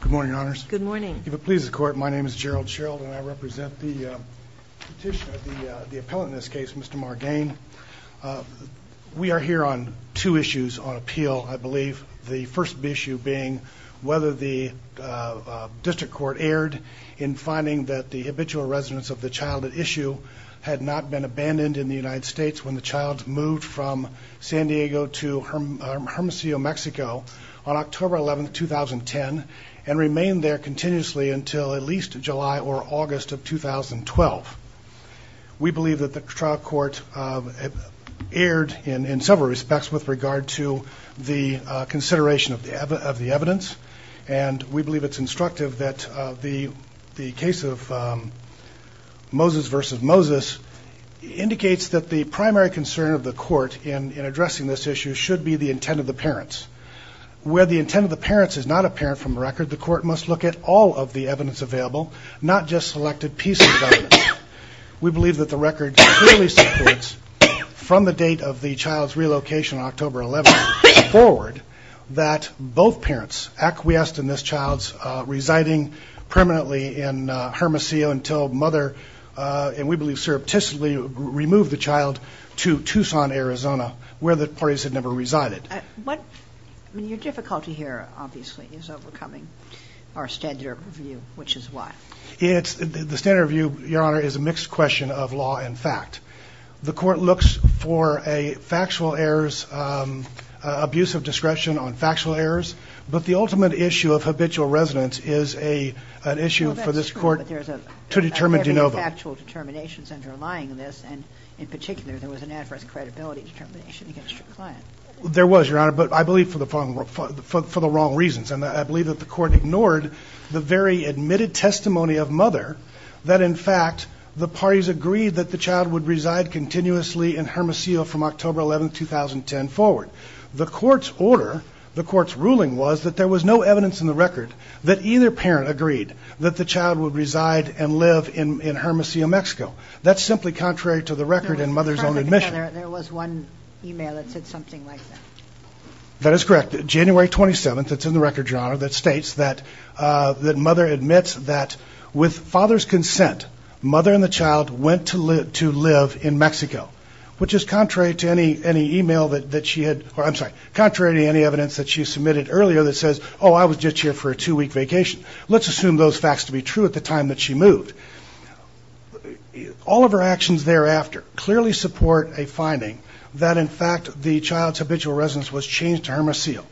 Good morning, Your Honors. Good morning. If it pleases the Court, my name is Gerald Sherald and I represent the petitioner, the appellant in this case, Mr. Margain. We are here on two issues on appeal, I believe. The first issue being whether the District Court erred in finding that the habitual residence of the child at issue had not been abandoned in the United States when the child moved from San Diego to Hermosillo, Mexico on October 11, 2010 and remained there continuously until at least July or August of 2012. We believe that the trial court erred in several respects with regard to the consideration of the evidence and we believe it's instructive that the case of Moses v. Moses indicates that the primary concern of the Court in addressing this issue should be the intent of the parents. Where the intent of the parents is not apparent from the record, the Court must look at all of the evidence available, not just selected pieces of evidence. We believe that the record clearly supports from the date of the child's relocation on October 11 forward that both parents acquiesced in this child's residing permanently in Hermosillo until mother, and we believe surreptitiously, removed the child to Tucson, Arizona, where the parties had never resided. Your difficulty here, obviously, is overcoming our standard of view, which is what? The standard of view, Your Honor, is a mixed question of law and fact. The Court looks for a factual errors, abuse of discretion on factual errors, but the ultimate issue of habitual residence is an issue for this Court to determine de novo. Well, that's true, but there's a heavy factual determinations underlying this, and in particular, there was an adverse credibility determination against your client. There was, Your Honor, but I believe for the wrong reasons, and I believe that the Court ignored the very admitted testimony of mother that, in fact, the parties agreed that the child would reside in Hermosillo from October 11, 2010 forward. The Court's order, the Court's ruling was that there was no evidence in the record that either parent agreed that the child would reside and live in Hermosillo, Mexico. That's simply contrary to the record and mother's own admission. There was one email that said something like that. That is correct. January 27th, it's in the record, Your Honor, that states that mother admits that with father's consent, mother and the child went to live in Mexico, which is contrary to any email that she had, or I'm sorry, contrary to any evidence that she submitted earlier that says, oh, I was just here for a two-week vacation. Let's assume those facts to be true at the time that she moved. All of her actions thereafter clearly support a finding that, in fact, the child's habitual residence was changed to Hermosillo.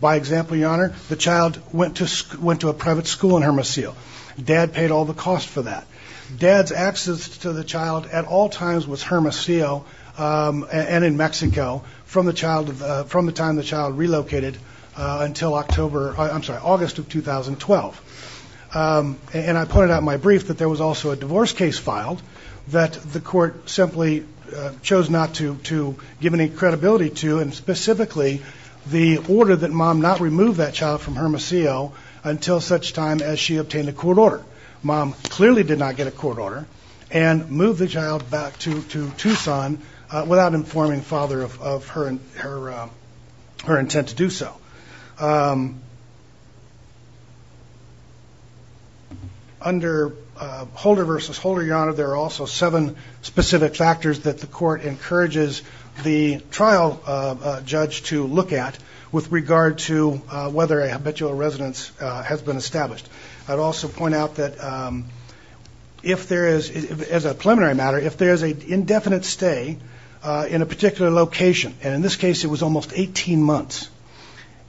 By example, Your Honor, the child went to a private school in Hermosillo. Dad paid all the cost for that. Dad's access to the child at all times was Hermosillo and in Mexico from the time the child relocated until August of 2012. And I pointed out in my brief that there was also a divorce case filed that the Court simply chose not to give any credibility to, and specifically the order that mom not remove that child from Hermosillo until such time as she obtained a court order. Mom clearly did not get a court order and moved the child back to Tucson without informing father of her intent to do so. Under Holder v. Holder, Your Honor, there are also seven specific factors that the Court encourages the trial judge to look at with regard to whether a habitual residence has been established. I'd also point out that if there is, as a preliminary matter, if there is an indefinite stay in a particular location, and in this case it was almost 18 months,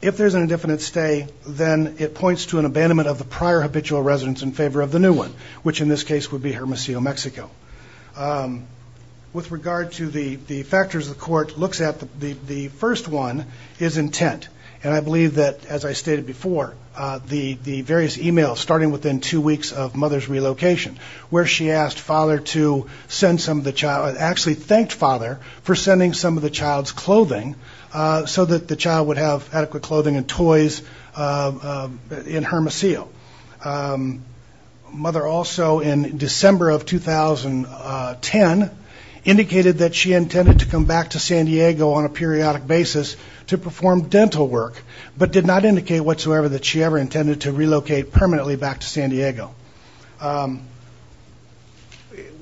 if there's an indefinite stay, then it points to an abandonment of the prior habitual residence in favor of the new one, which in this case would be Hermosillo, Mexico. With regard to the factors the Court looks at, the first one is intent. And I believe that, as I stated before, the various emails starting within two weeks of mother's relocation, where she asked father to send some of the child, actually thanked father for sending some of the child's clothing so that the child would have adequate clothing and toys in Hermosillo. Mother also, in December of 2010, indicated that she intended to come back to San Diego on a periodic basis to perform dental work, but did not indicate whatsoever that she ever intended to relocate permanently back to San Diego.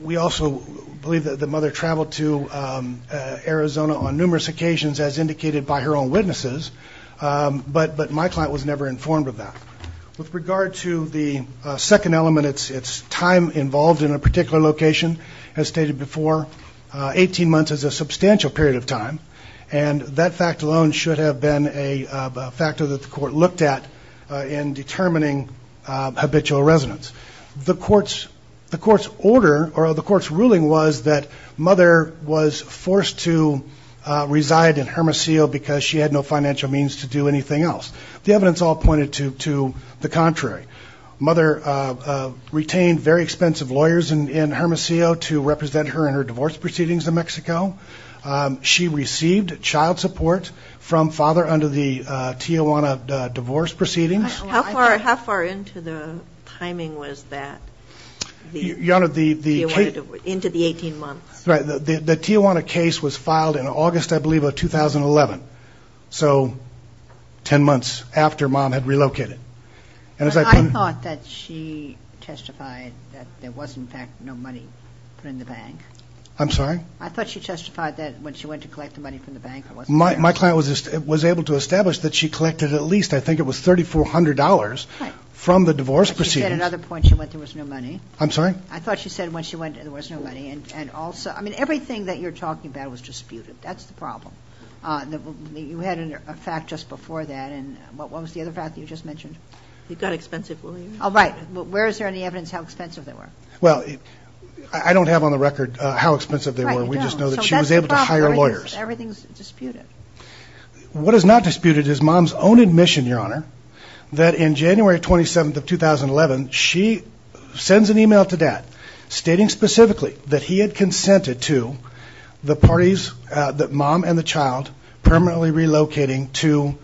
We also believe that the mother traveled to Arizona on numerous occasions, as indicated by her own witnesses, but my client was never informed of that. With regard to the second element, it's time involved in a particular location, as stated before, 18 months is a substantial period of time, and that fact alone should have been a factor that the Court looked at in determining habitual residence. The Court's order, or the Court's ruling, was that mother was forced to reside in Hermosillo because she had no the contrary. Mother retained very expensive lawyers in Hermosillo to represent her in her divorce proceedings in Mexico. She received child support from father under the Tijuana divorce proceedings. How far into the timing was that, into the 18 months? The Tijuana case was filed in August, I believe, of 2011, so 10 months after mom had relocated. I thought that she testified that there was, in fact, no money put in the bank. I'm sorry? I thought she testified that when she went to collect the money from the bank, it wasn't there. My client was able to establish that she collected at least, I think it was $3,400, from the divorce proceedings. But she said at another point she went there was no money. I'm sorry? I thought she said when she went there was no money, and also, I mean, everything that you're talking about was disputed. That's the problem. You had a fact just before that, and what was the other fact that you just mentioned? It got expensive, William. Oh, right. Where is there any evidence how expensive they were? Well, I don't have on the record how expensive they were. We just know that she was able to hire lawyers. Everything's disputed. What is not disputed is mom's own admission, Your Honor, that in January 27th of 2011, she sends an email to dad stating specifically that he had consented to the parties that mom and the child permanently relocating to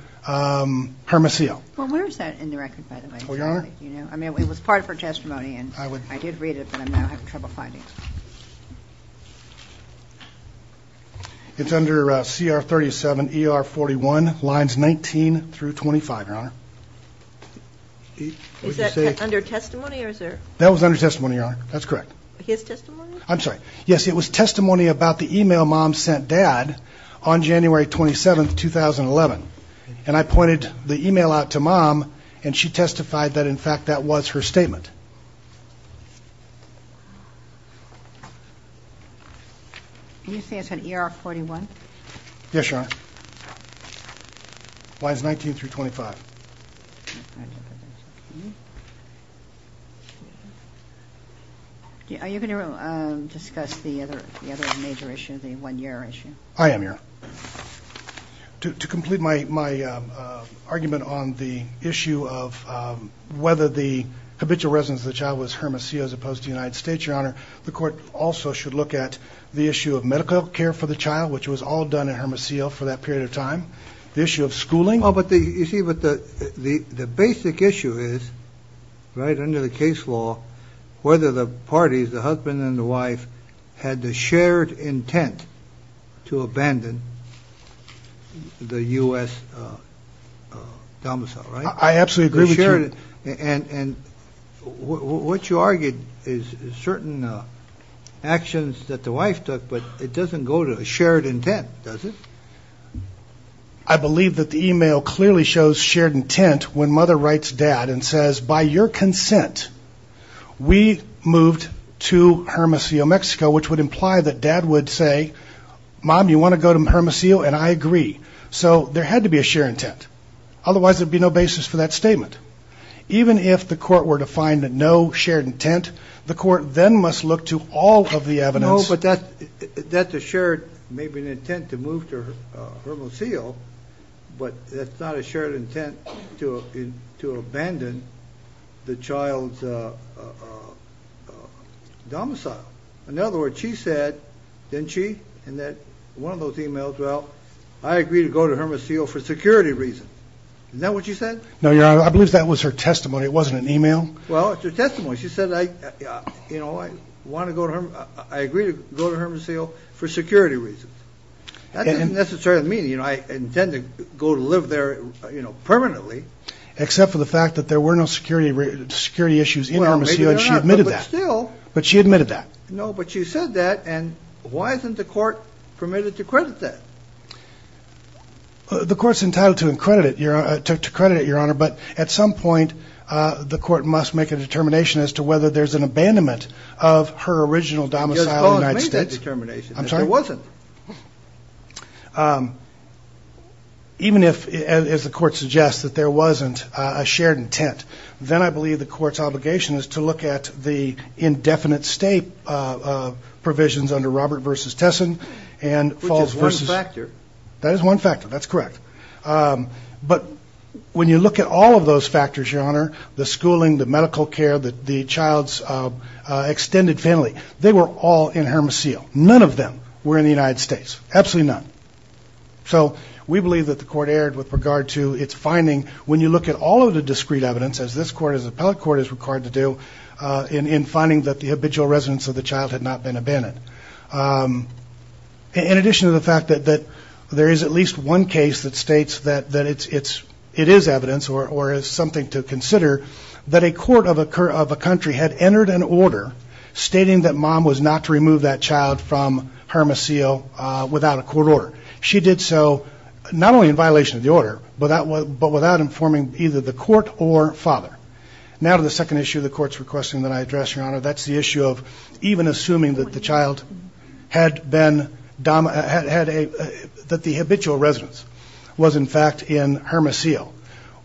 Hermosillo. Well, where is that in the record, by the way? Oh, Your Honor? You know, I mean, it was part of her testimony, and I did read it, but I'm now having trouble finding it. It's under CR 37 ER 41, lines 19 through 25, Your Honor. Is that under testimony, or is there? That was under testimony, Your Honor. That's correct. His testimony? I'm sorry. Yes, it was testimony about the email mom sent dad on January 27th, 2011. And I pointed the email out to mom, and she testified that, in fact, that was her statement. You say it's on ER 41? Yes, Your Honor. Lines 19 through 25. Are you going to discuss the other major issue, the one-year issue? I am, Your Honor. To complete my argument on the issue of whether the habitual residence of the child was Hermosillo as opposed to the United States, Your Honor, the court also should look at the issue of medical care for the child, which was all done in Hermosillo for that period of time, the issue of schooling. You see, the basic issue is, right under the case law, whether the parties, the husband and the wife, had the shared intent to abandon the U.S. domicile, right? I absolutely agree with you. And what you argued is certain actions that the wife took, but it doesn't go to a shared intent, does it? I believe that the email clearly shows shared intent when mother writes dad and says, by your consent, we moved to Hermosillo, Mexico, which would imply that dad would say, mom, you want to go to Hermosillo? And I agree. So there had to be a shared intent. Otherwise, there would be no basis for that statement. Even if the court were to find no shared intent, the court then must look to all of the evidence. Yes, but that's a shared, maybe an intent to move to Hermosillo, but that's not a shared intent to abandon the child's domicile. In other words, she said, didn't she, in one of those emails, well, I agree to go to Hermosillo for security reasons. Isn't that what she said? No, Your Honor, I believe that was her testimony. It wasn't an email. Well, it's her testimony. She said, I agree to go to Hermosillo for security reasons. That doesn't necessarily mean I intend to go to live there permanently. Except for the fact that there were no security issues in Hermosillo, and she admitted that. But she admitted that. No, but she said that, and why isn't the court permitted to credit that? The court's entitled to credit it, Your Honor, but at some point, the court must make a determination as to whether there's an abandonment of her original domicile in the United States. You're supposed to make that determination. I'm sorry? There wasn't. Even if, as the court suggests, that there wasn't a shared intent, then I believe the court's obligation is to look at the indefinite state provisions under Robert v. Tessin and falls versus. Which is one factor. That is one factor. That's correct. But when you look at all of those factors, Your Honor, the schooling, the medical care, the child's extended family, they were all in Hermosillo. None of them were in the United States. Absolutely none. So we believe that the court erred with regard to its finding when you look at all of the discrete evidence, as this court, as the appellate court is required to do, in finding that the habitual residence of the child had not been abandoned. In addition to the fact that there is at least one case that states that it is evidence or is something to consider that a court of a country had entered an order stating that mom was not to remove that child from Hermosillo without a court order. She did so not only in violation of the order but without informing either the court or father. Now to the second issue the court's requesting that I address, Your Honor. That's the issue of even assuming that the child had been, that the habitual residence was in fact in Hermosillo.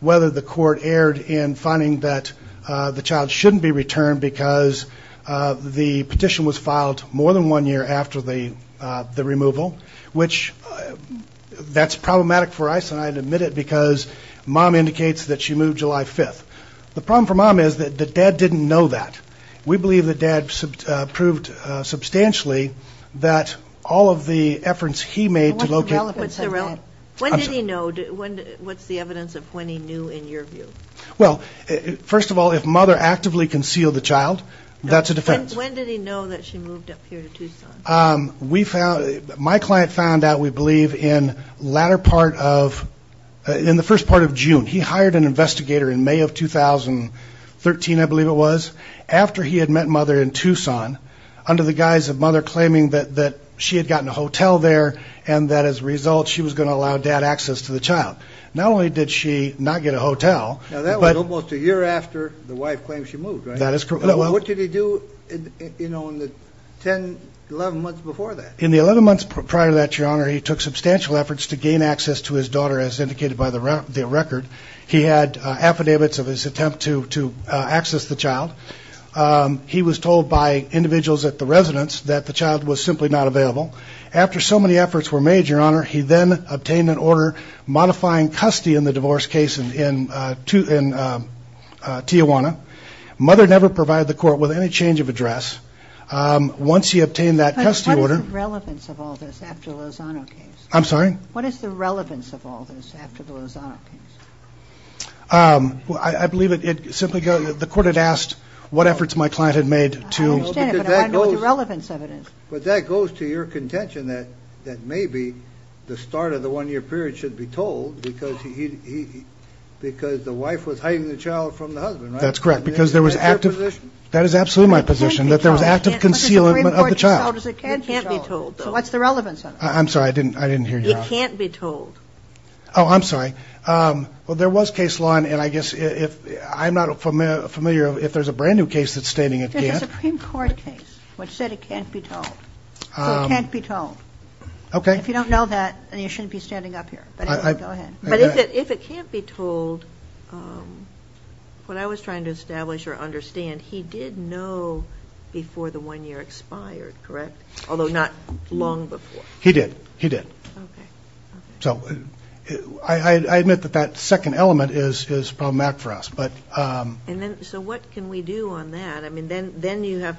Whether the court erred in finding that the child shouldn't be returned because the petition was filed more than one year after the removal, which that's problematic for ICE and I admit it because mom indicates that she moved July 5th. The problem for mom is that the dad didn't know that. We believe that dad proved substantially that all of the efforts he made to locate When did he know, what's the evidence of when he knew in your view? Well, first of all if mother actively concealed the child, that's a defense. When did he know that she moved up here to Tucson? We found, my client found out we believe in latter part of, in the first part of June. He hired an investigator in May of 2013 I believe it was after he had met mother in Tucson under the guise of mother claiming that she had gotten a hotel there and that as a result she was going to allow dad access to the child. Not only did she not get a hotel, Now that was almost a year after the wife claimed she moved, right? That is correct. What did he do in the 10, 11 months before that? In the 11 months prior to that, Your Honor, he took substantial efforts to gain access to his daughter as indicated by the record. He had affidavits of his attempt to access the child. He was told by individuals at the residence that the child was simply not available. After so many efforts were made, Your Honor, he then obtained an order modifying custody in the divorce case in Tijuana. Mother never provided the court with any change of address. Once he obtained that custody order, But what is the relevance of all this after the Lozano case? I'm sorry? What is the relevance of all this after the Lozano case? I believe it simply goes, The court had asked what efforts my client had made to I understand it, but I want to know what the relevance of it is. But that goes to your contention that maybe the start of the one-year period should be told because the wife was hiding the child from the husband, right? That's correct, because there was active That's your position. That is absolutely my position, that there was active concealment of the child. So what's the relevance of it? I'm sorry, I didn't hear you. It can't be told. Oh, I'm sorry. Well, there was case law, and I guess I'm not familiar if there's a brand-new case that's standing again. There's a Supreme Court case which said it can't be told. So it can't be told. If you don't know that, then you shouldn't be standing up here. But if it can't be told, what I was trying to establish or understand, he did know before the one-year expired, correct? Although not long before. He did. Okay. So I admit that that second element is problematic for us. So what can we do on that? Then you have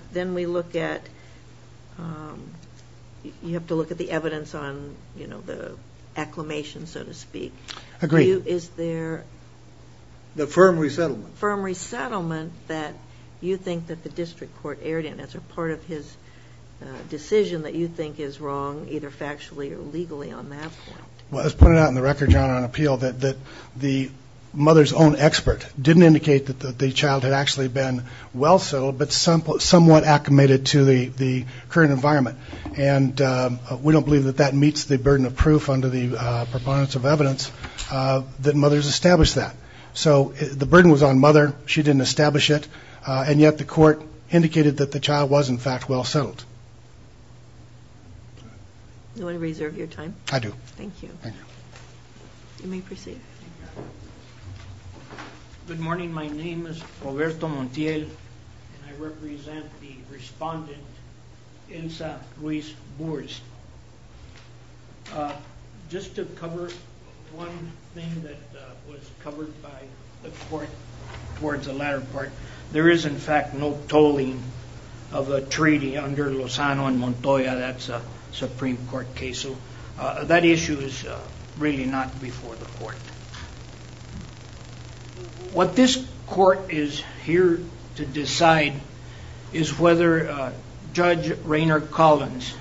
to look at the evidence on the acclimation, so to speak. Agreed. Is there... The firm resettlement. Firm resettlement that you think that the district court erred in as a part of his decision that you think is wrong, either factually or legally on that point? Well, as pointed out in the record, Your Honor, on appeal, that the mother's own expert didn't indicate that the child had actually been well-settled, but somewhat acclimated to the current environment. And we don't believe that that meets the burden of proof under the proponents of evidence that mothers establish that. So the burden was on mother. She didn't establish it. And yet the court indicated that the child was, in fact, well-settled. Do you want to reserve your time? I do. Thank you. Thank you. You may proceed. Thank you. Good morning. My name is Roberto Montiel, and I represent the respondent, Elsa Ruiz Burst. Just to cover one thing that was covered by the court towards the latter part, there is, in fact, no tolling of a treaty under Lozano and Montoya. That's a Supreme Court case. So that issue is really not before the court. What this court is here to decide is whether Judge Rainer Collins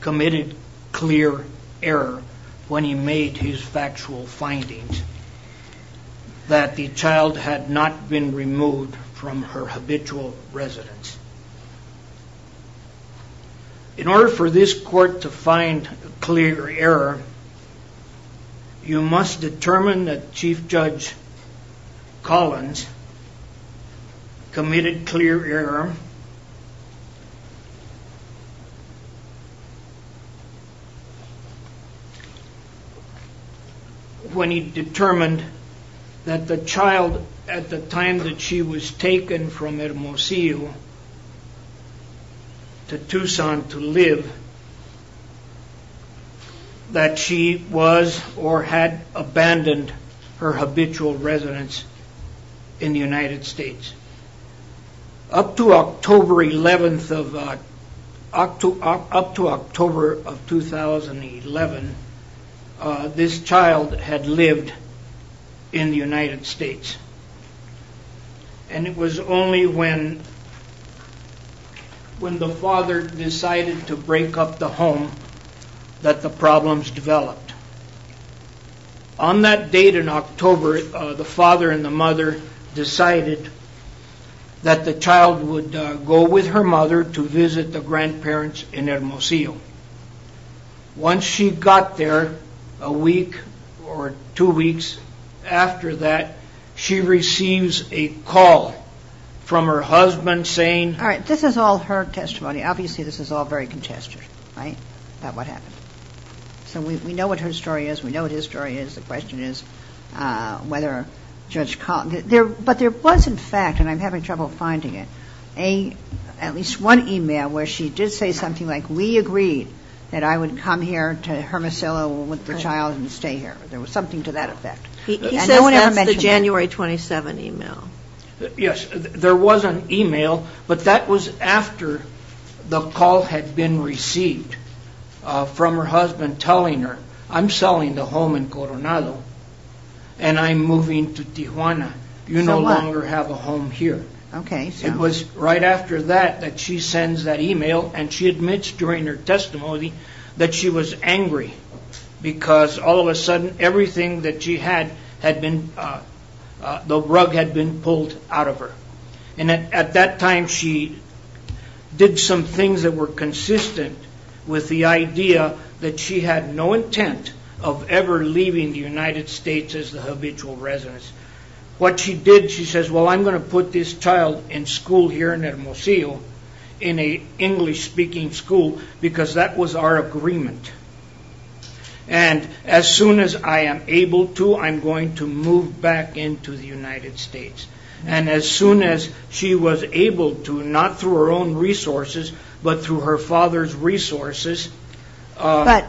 committed clear error when he made his factual findings that the child had not been removed from her habitual residence. In order for this court to find clear error, you must determine that Chief Judge Collins committed clear error when he determined that the child, at the time that she was taken from Hermosillo to Tucson to live, that she was or had abandoned her habitual residence in the United States. Up to October, October 11th of, up to October of 2011, this child had lived in the United States. And it was only when the father decided to break up the home that the problems developed. On that date in October, the father and the mother decided that the child would go with her mother to visit the grandparents in Hermosillo. Once she got there, a week or two weeks after that, she receives a call from her husband saying... All right, this is all her testimony. Obviously, this is all very contested, right? About what happened. So we know what her story is. We know what his story is. The question is whether Judge Collins... But there was, in fact, and I'm having trouble finding it, at least one email where she did say something like, we agreed that I would come here to Hermosillo with the child and stay here. There was something to that effect. He says that's the January 27 email. Yes, there was an email, but that was after the call had been received from her husband telling her, I'm selling the home in Coronado and I'm moving to Tijuana. You no longer have a home here. It was right after that that she sends that email and she admits during her testimony that she was angry because all of a sudden everything that she had the rug had been pulled out of her. At that time, she did some things that were consistent with the idea that she had no intent of ever leaving the United States as the habitual resident. What she did, she says, well, I'm going to put this child in school here in Hermosillo in an English speaking school because that was our agreement. And as soon as I am able to, I'm going to move back into the United States. And as soon as she was able to, not through her own resources, but through her father's resources... But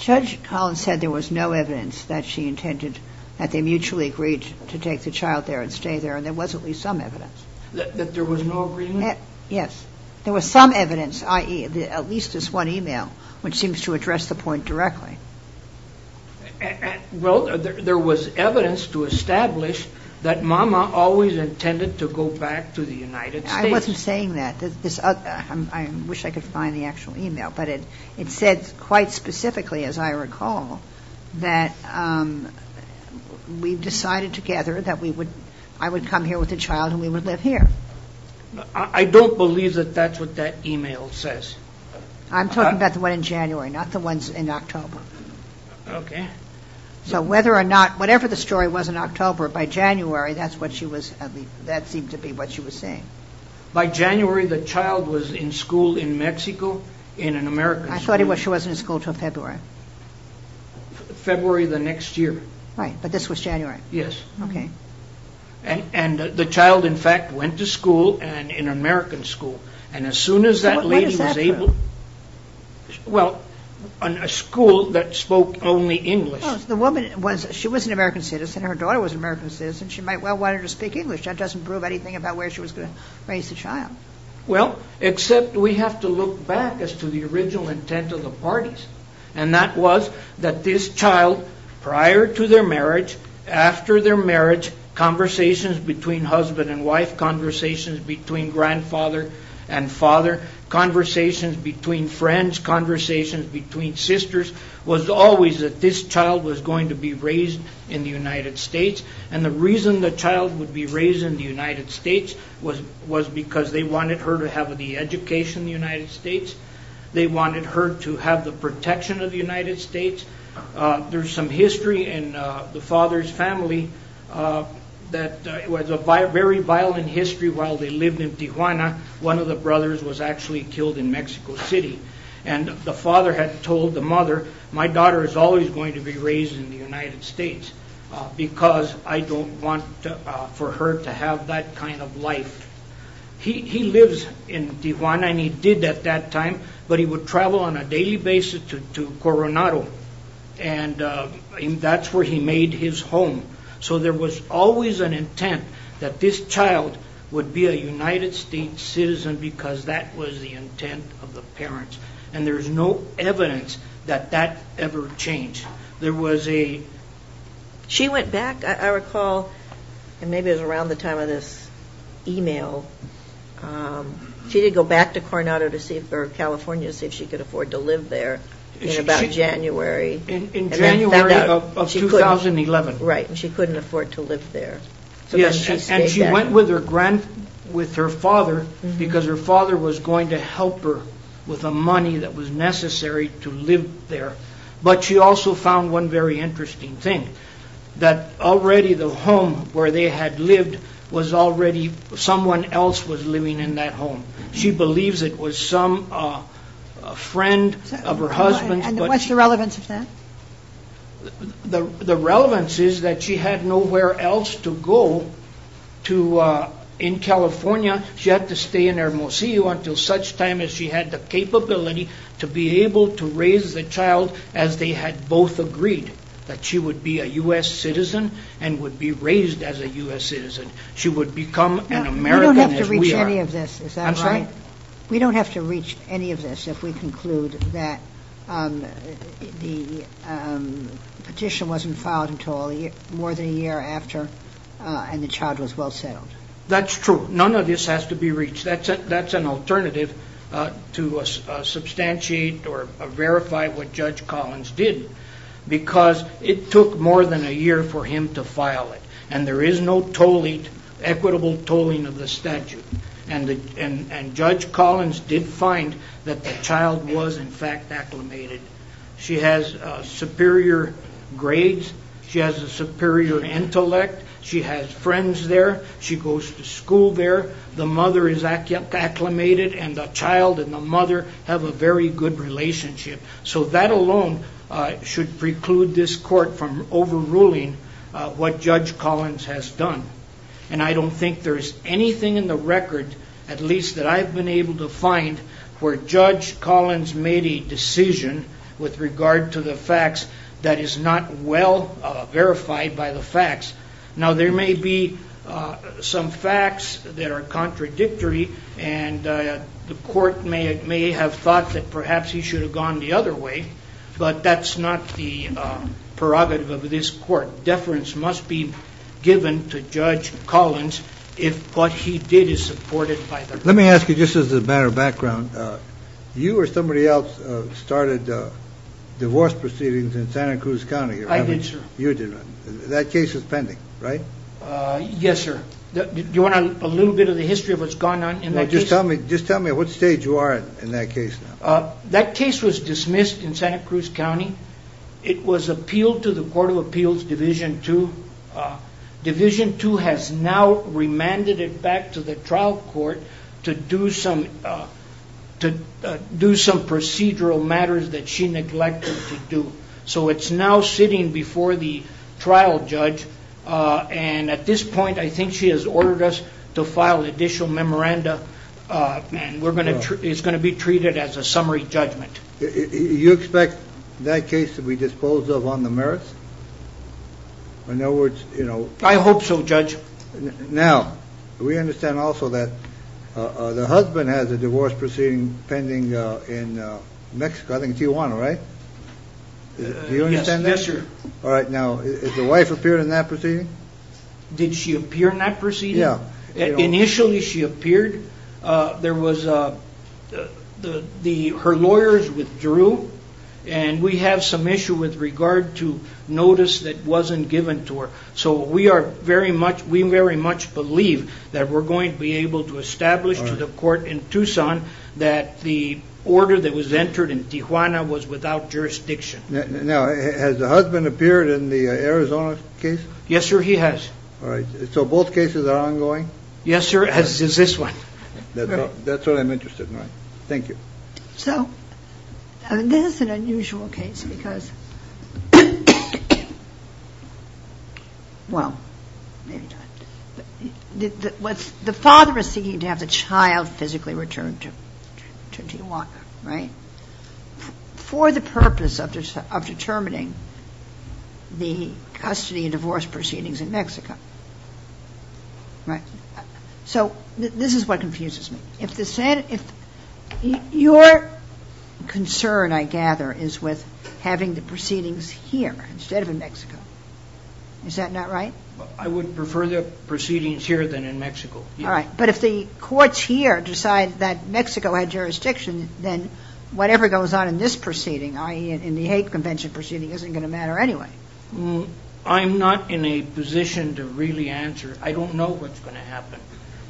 Judge Collins said there was no evidence that she intended that they mutually agreed to take the child there and stay there and there was at least some evidence. That there was no agreement? Yes. There was some evidence i.e. at least this one email which seems to address the point directly. Well, there was evidence to establish that Mama always intended to go back to the United States. I wasn't saying that. I wish I could find the actual email but it said quite specifically as I recall that we decided together that I would come here with the child and we would live here. I don't believe that that's what that email says. I'm talking about the one in January not the ones in October. Okay. So whether or not whatever the story was in October by January that seemed to be what she was saying. By January the child was in school in Mexico in an American school. I thought she wasn't in school until February. February the next year. Right. But this was January. Yes. Okay. And the child in fact went to school in an American school. And as soon as that lady was able What does that prove? Well a school that spoke only English. Oh, so the woman she was an American citizen her daughter was an American citizen she might well want her to speak English that doesn't prove anything about where she was going to raise the child. Well except we have to look back as to the original intent of the parties and that was that this child prior to their marriage after their marriage conversations between husband and wife conversations between grandfather and father conversations between friends conversations between sisters was always that this child was going to be raised in the United States and the reason the child would be raised in the United States was was because they wanted her to have the education they wanted her to have the protection of the United States to have the protection of the United States there's some history in the father's family that it was a very violent history while they lived in Tijuana one of the brothers was actually killed in Mexico City and the father had told the mother my daughter is always going to be raised in the United States because I don't want for her to have that kind of life he he lives in Tijuana and he did at that time but he would travel on a daily basis to Coronado and that's where he made his home so there was always an intent that this child would be a United States citizen because that was the intent of the parents and there's no evidence that that ever changed there was a she went back I recall and maybe it was around the time of this email she did go back to Coronado or California to see if she could afford to live there in about January in January of 2011 right and she couldn't afford to live there and she went with her grandfather with her father because her father was going to help her with the money that was necessary to live there but she also found one very interesting thing that already the home where they had lived was already someone else was living in that home she believes it was some friend of her husband and what's the relevance of that the relevance is that she had nowhere else to go to in California she had to stay in Hermosillo until such time as she had the capability to be able to raise the child as they had both agreed that she would be a U.S. citizen and would be raised as a U.S. citizen she would become an American as we are we don't have to reach any of this is that right we don't have to reach any of this if we conclude that the petition wasn't filed until more than a year after and the child was well settled that's true none of this has to be reached that's an alternative to substantiate or verify what Judge Collins did because it took more than a year for him to file it and there is no tolling equitable tolling of the statute and Judge Collins did find that the child was in fact acclimated she has superior grades she has a superior intellect she has friends there she goes to school there the mother is acclimated and the child and the mother have a very good relationship so that alone should preclude this court from overruling what Judge Collins has done and I don't think there is anything in the record at least that I have been able to find where Judge Collins made a decision with regard to the facts that is not well verified by the facts now there may be some facts that are contradictory and the court may have thought that perhaps he should have gone the other way but that's not the prerogative of this court deference must be given to Judge Collins if what he did is supported by the court let me ask you just as a matter of background you or somebody else started divorce proceedings in Santa Cruz County I did sir you did that case was pending right yes sir do you want a little bit of the history of what's gone on just tell me what stage you are in that case that case was dismissed in Santa Cruz County it was appealed to the court of appeals division two division two has now remanded it back to the trial court to do some procedural matters that she neglected to do so it's now sitting before the trial judge and at this point I think she has ordered us to file additional memoranda and it's going to be treated as a summary judgment you expect that case to be disposed of on the merits I hope so judge now we understand also that the husband has a divorce proceeding pending in Mexico I think Tijuana right do you understand that yes sir alright now has the wife appeared in that proceeding did she appear in that proceeding initially she appeared there was her lawyers withdrew and we have some issue with regard to notice that wasn't given to her so we very much believe that we're going to be able to establish to the court in Tucson that the order that was entered in Tijuana was without jurisdiction now has the husband appeared in the Arizona case yes sir he has so both cases are ongoing yes sir as is this one that's what I'm interested in thank you so this is an unusual case because well maybe not the father is seeking to have the child physically returned to Tijuana right for the purpose of determining the custody and divorce proceedings in Mexico right so this is what confuses me if the your concern I gather is with having the proceedings here instead of in Mexico is that not right I would prefer the proceedings here than in Mexico but if the courts here decide that Mexico had jurisdiction then whatever goes on in this proceeding i.e. in the hate convention proceeding isn't going to matter anyway I'm not in a position to really answer I don't know what's going to happen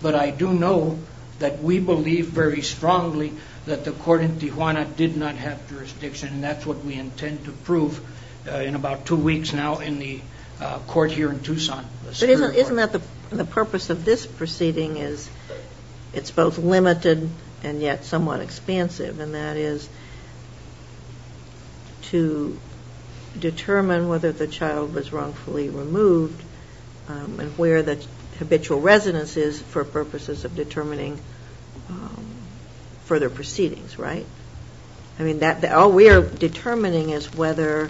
but I do know that we believe very strongly that the court in Tijuana did not have jurisdiction and that's what we intend to prove in about two weeks now in the court here in Tucson the purpose of this hearing whether the child was wrongfully removed and where the habitual residence is for purposes of determining further proceedings right I mean that all we are determining is whether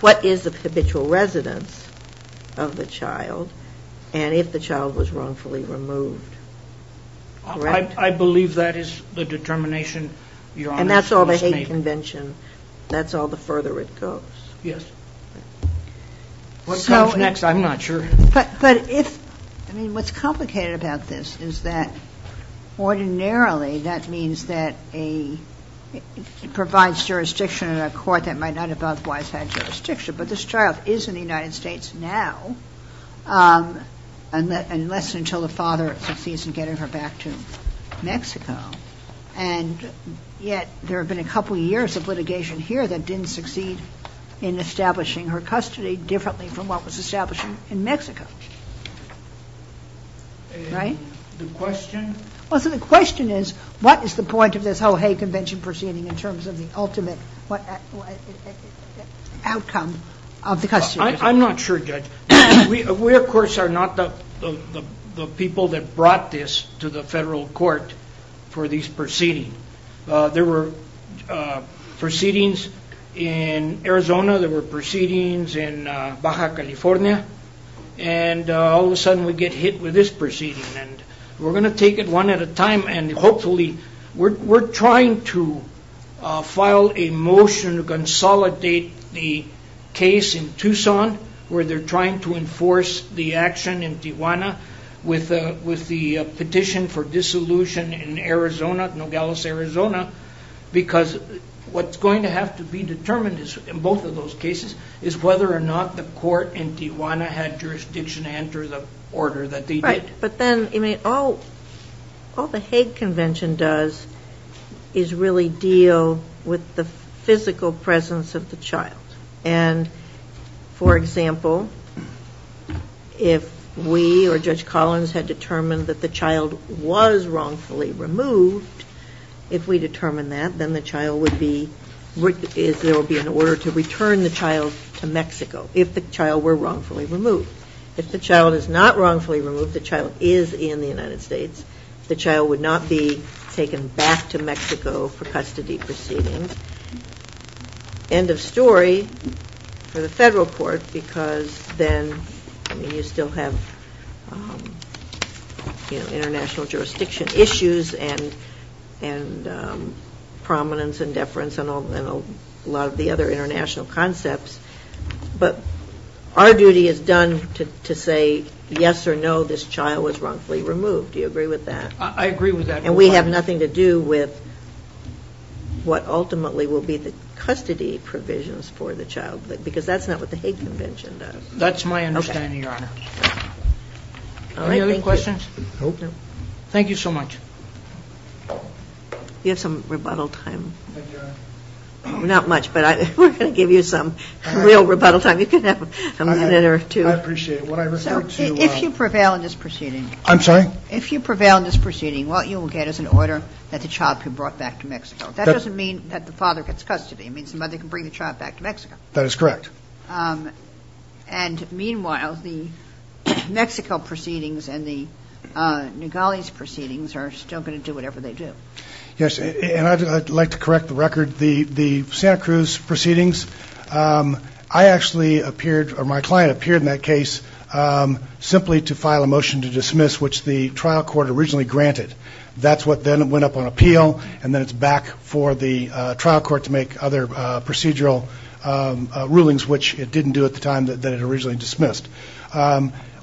what is the state convention that's all the further it goes I'm not sure but if what's complicated about this is that ordinarily that means that a provides jurisdiction in a court that might not have jurisdiction but this child is in the United States now unless until the father gets her back to Mexico there have been a couple years of litigation here that didn't succeed in establishing her custody differently from what was the outcome of the custody I'm not sure judge we of course are not the people that brought this to the federal court for these proceedings there were proceedings in Arizona there were proceedings in Baja California and all of a sudden we get hit with this proceeding and we're going to have a case in Tucson where they're trying to enforce the action in Tijuana with the petition for dissolution in Arizona Nogales Arizona because what's going to have to be determined in both of those cases is whether or not the court in Tijuana had jurisdiction to enter the order but then all the Hague Convention does is really deal with the physical presence of the child and for example if we or Judge Collins had determined that the child was wrongfully removed if we determined that then the child would be there would be an order to return the child to Mexico if the child were wrongfully removed if the child is not wrongfully removed the child would not be taken back to Mexico for custody proceedings end of story for the federal court because then you still have international jurisdiction issues and prominence and deference and a lot of the other international concepts but our duty is done to say yes or no this child was wrongfully removed do you agree with that and we have nothing to do with what ultimately will be the custody provisions for the child because that's not what the hate convention does that's my understanding your honor any other questions thank you so much you have some rebuttal time not much but we're going to give you some real rebuttal time you can have a minute or two I appreciate it if you prevail in this proceeding I'm sorry if you prevail in this proceeding what you will get is an order that the child can be brought back to Mexico that doesn't mean that the father gets custody it means the mother can bring the child back to Mexico that is correct and meanwhile the Mexico proceedings and Nugali proceedings are still going to do whatever they do I would like to say that the trial court originally granted that's what up on appeal and it's back for the trial court to make other procedural rulings which it didn't do at the time it dismissed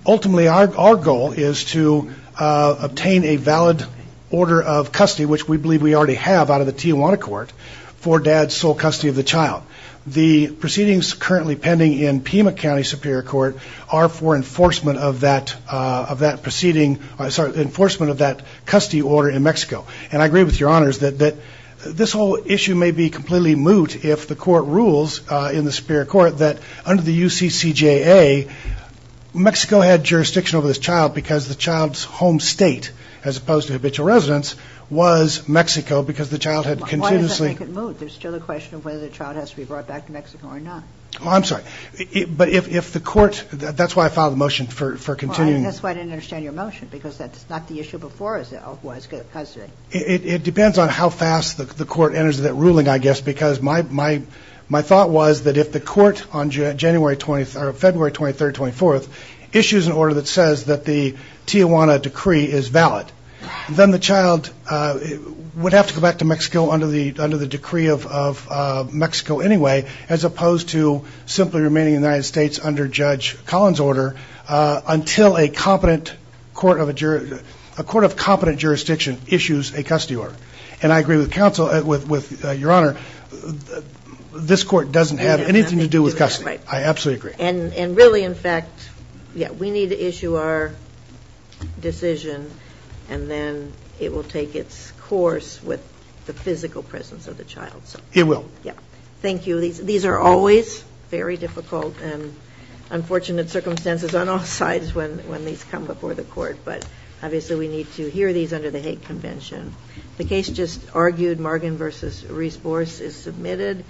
ultimately our goal is to obtain a valid order of custody which we believe we already have out of the Tijuana court for dad's sole custody of the child because the child's home state as opposed to habitual residence was Mexico because the child had continuously moved there's still a question of whether the Tijuana decree is valid then the child would to Mexico under the decree of Mexico anyway as opposed to simply removing the Tijuana decree from the court of the United States under judge Collins order until a competent court issues a custody order and I agree with your honor this court doesn't have anything to do with custody and really in fact we need to issue our decision and then it will take its course with the physical presence of the child thank you these are always very difficult and unfortunate circumstances on all sides when these come before the court but obviously we need to hear these hate convention the case just argued Margan versus Reese Boris is submitted thank you thank you thank you thank thank you thank thank you thank you thank thank you thank you thank you thank you thank you thank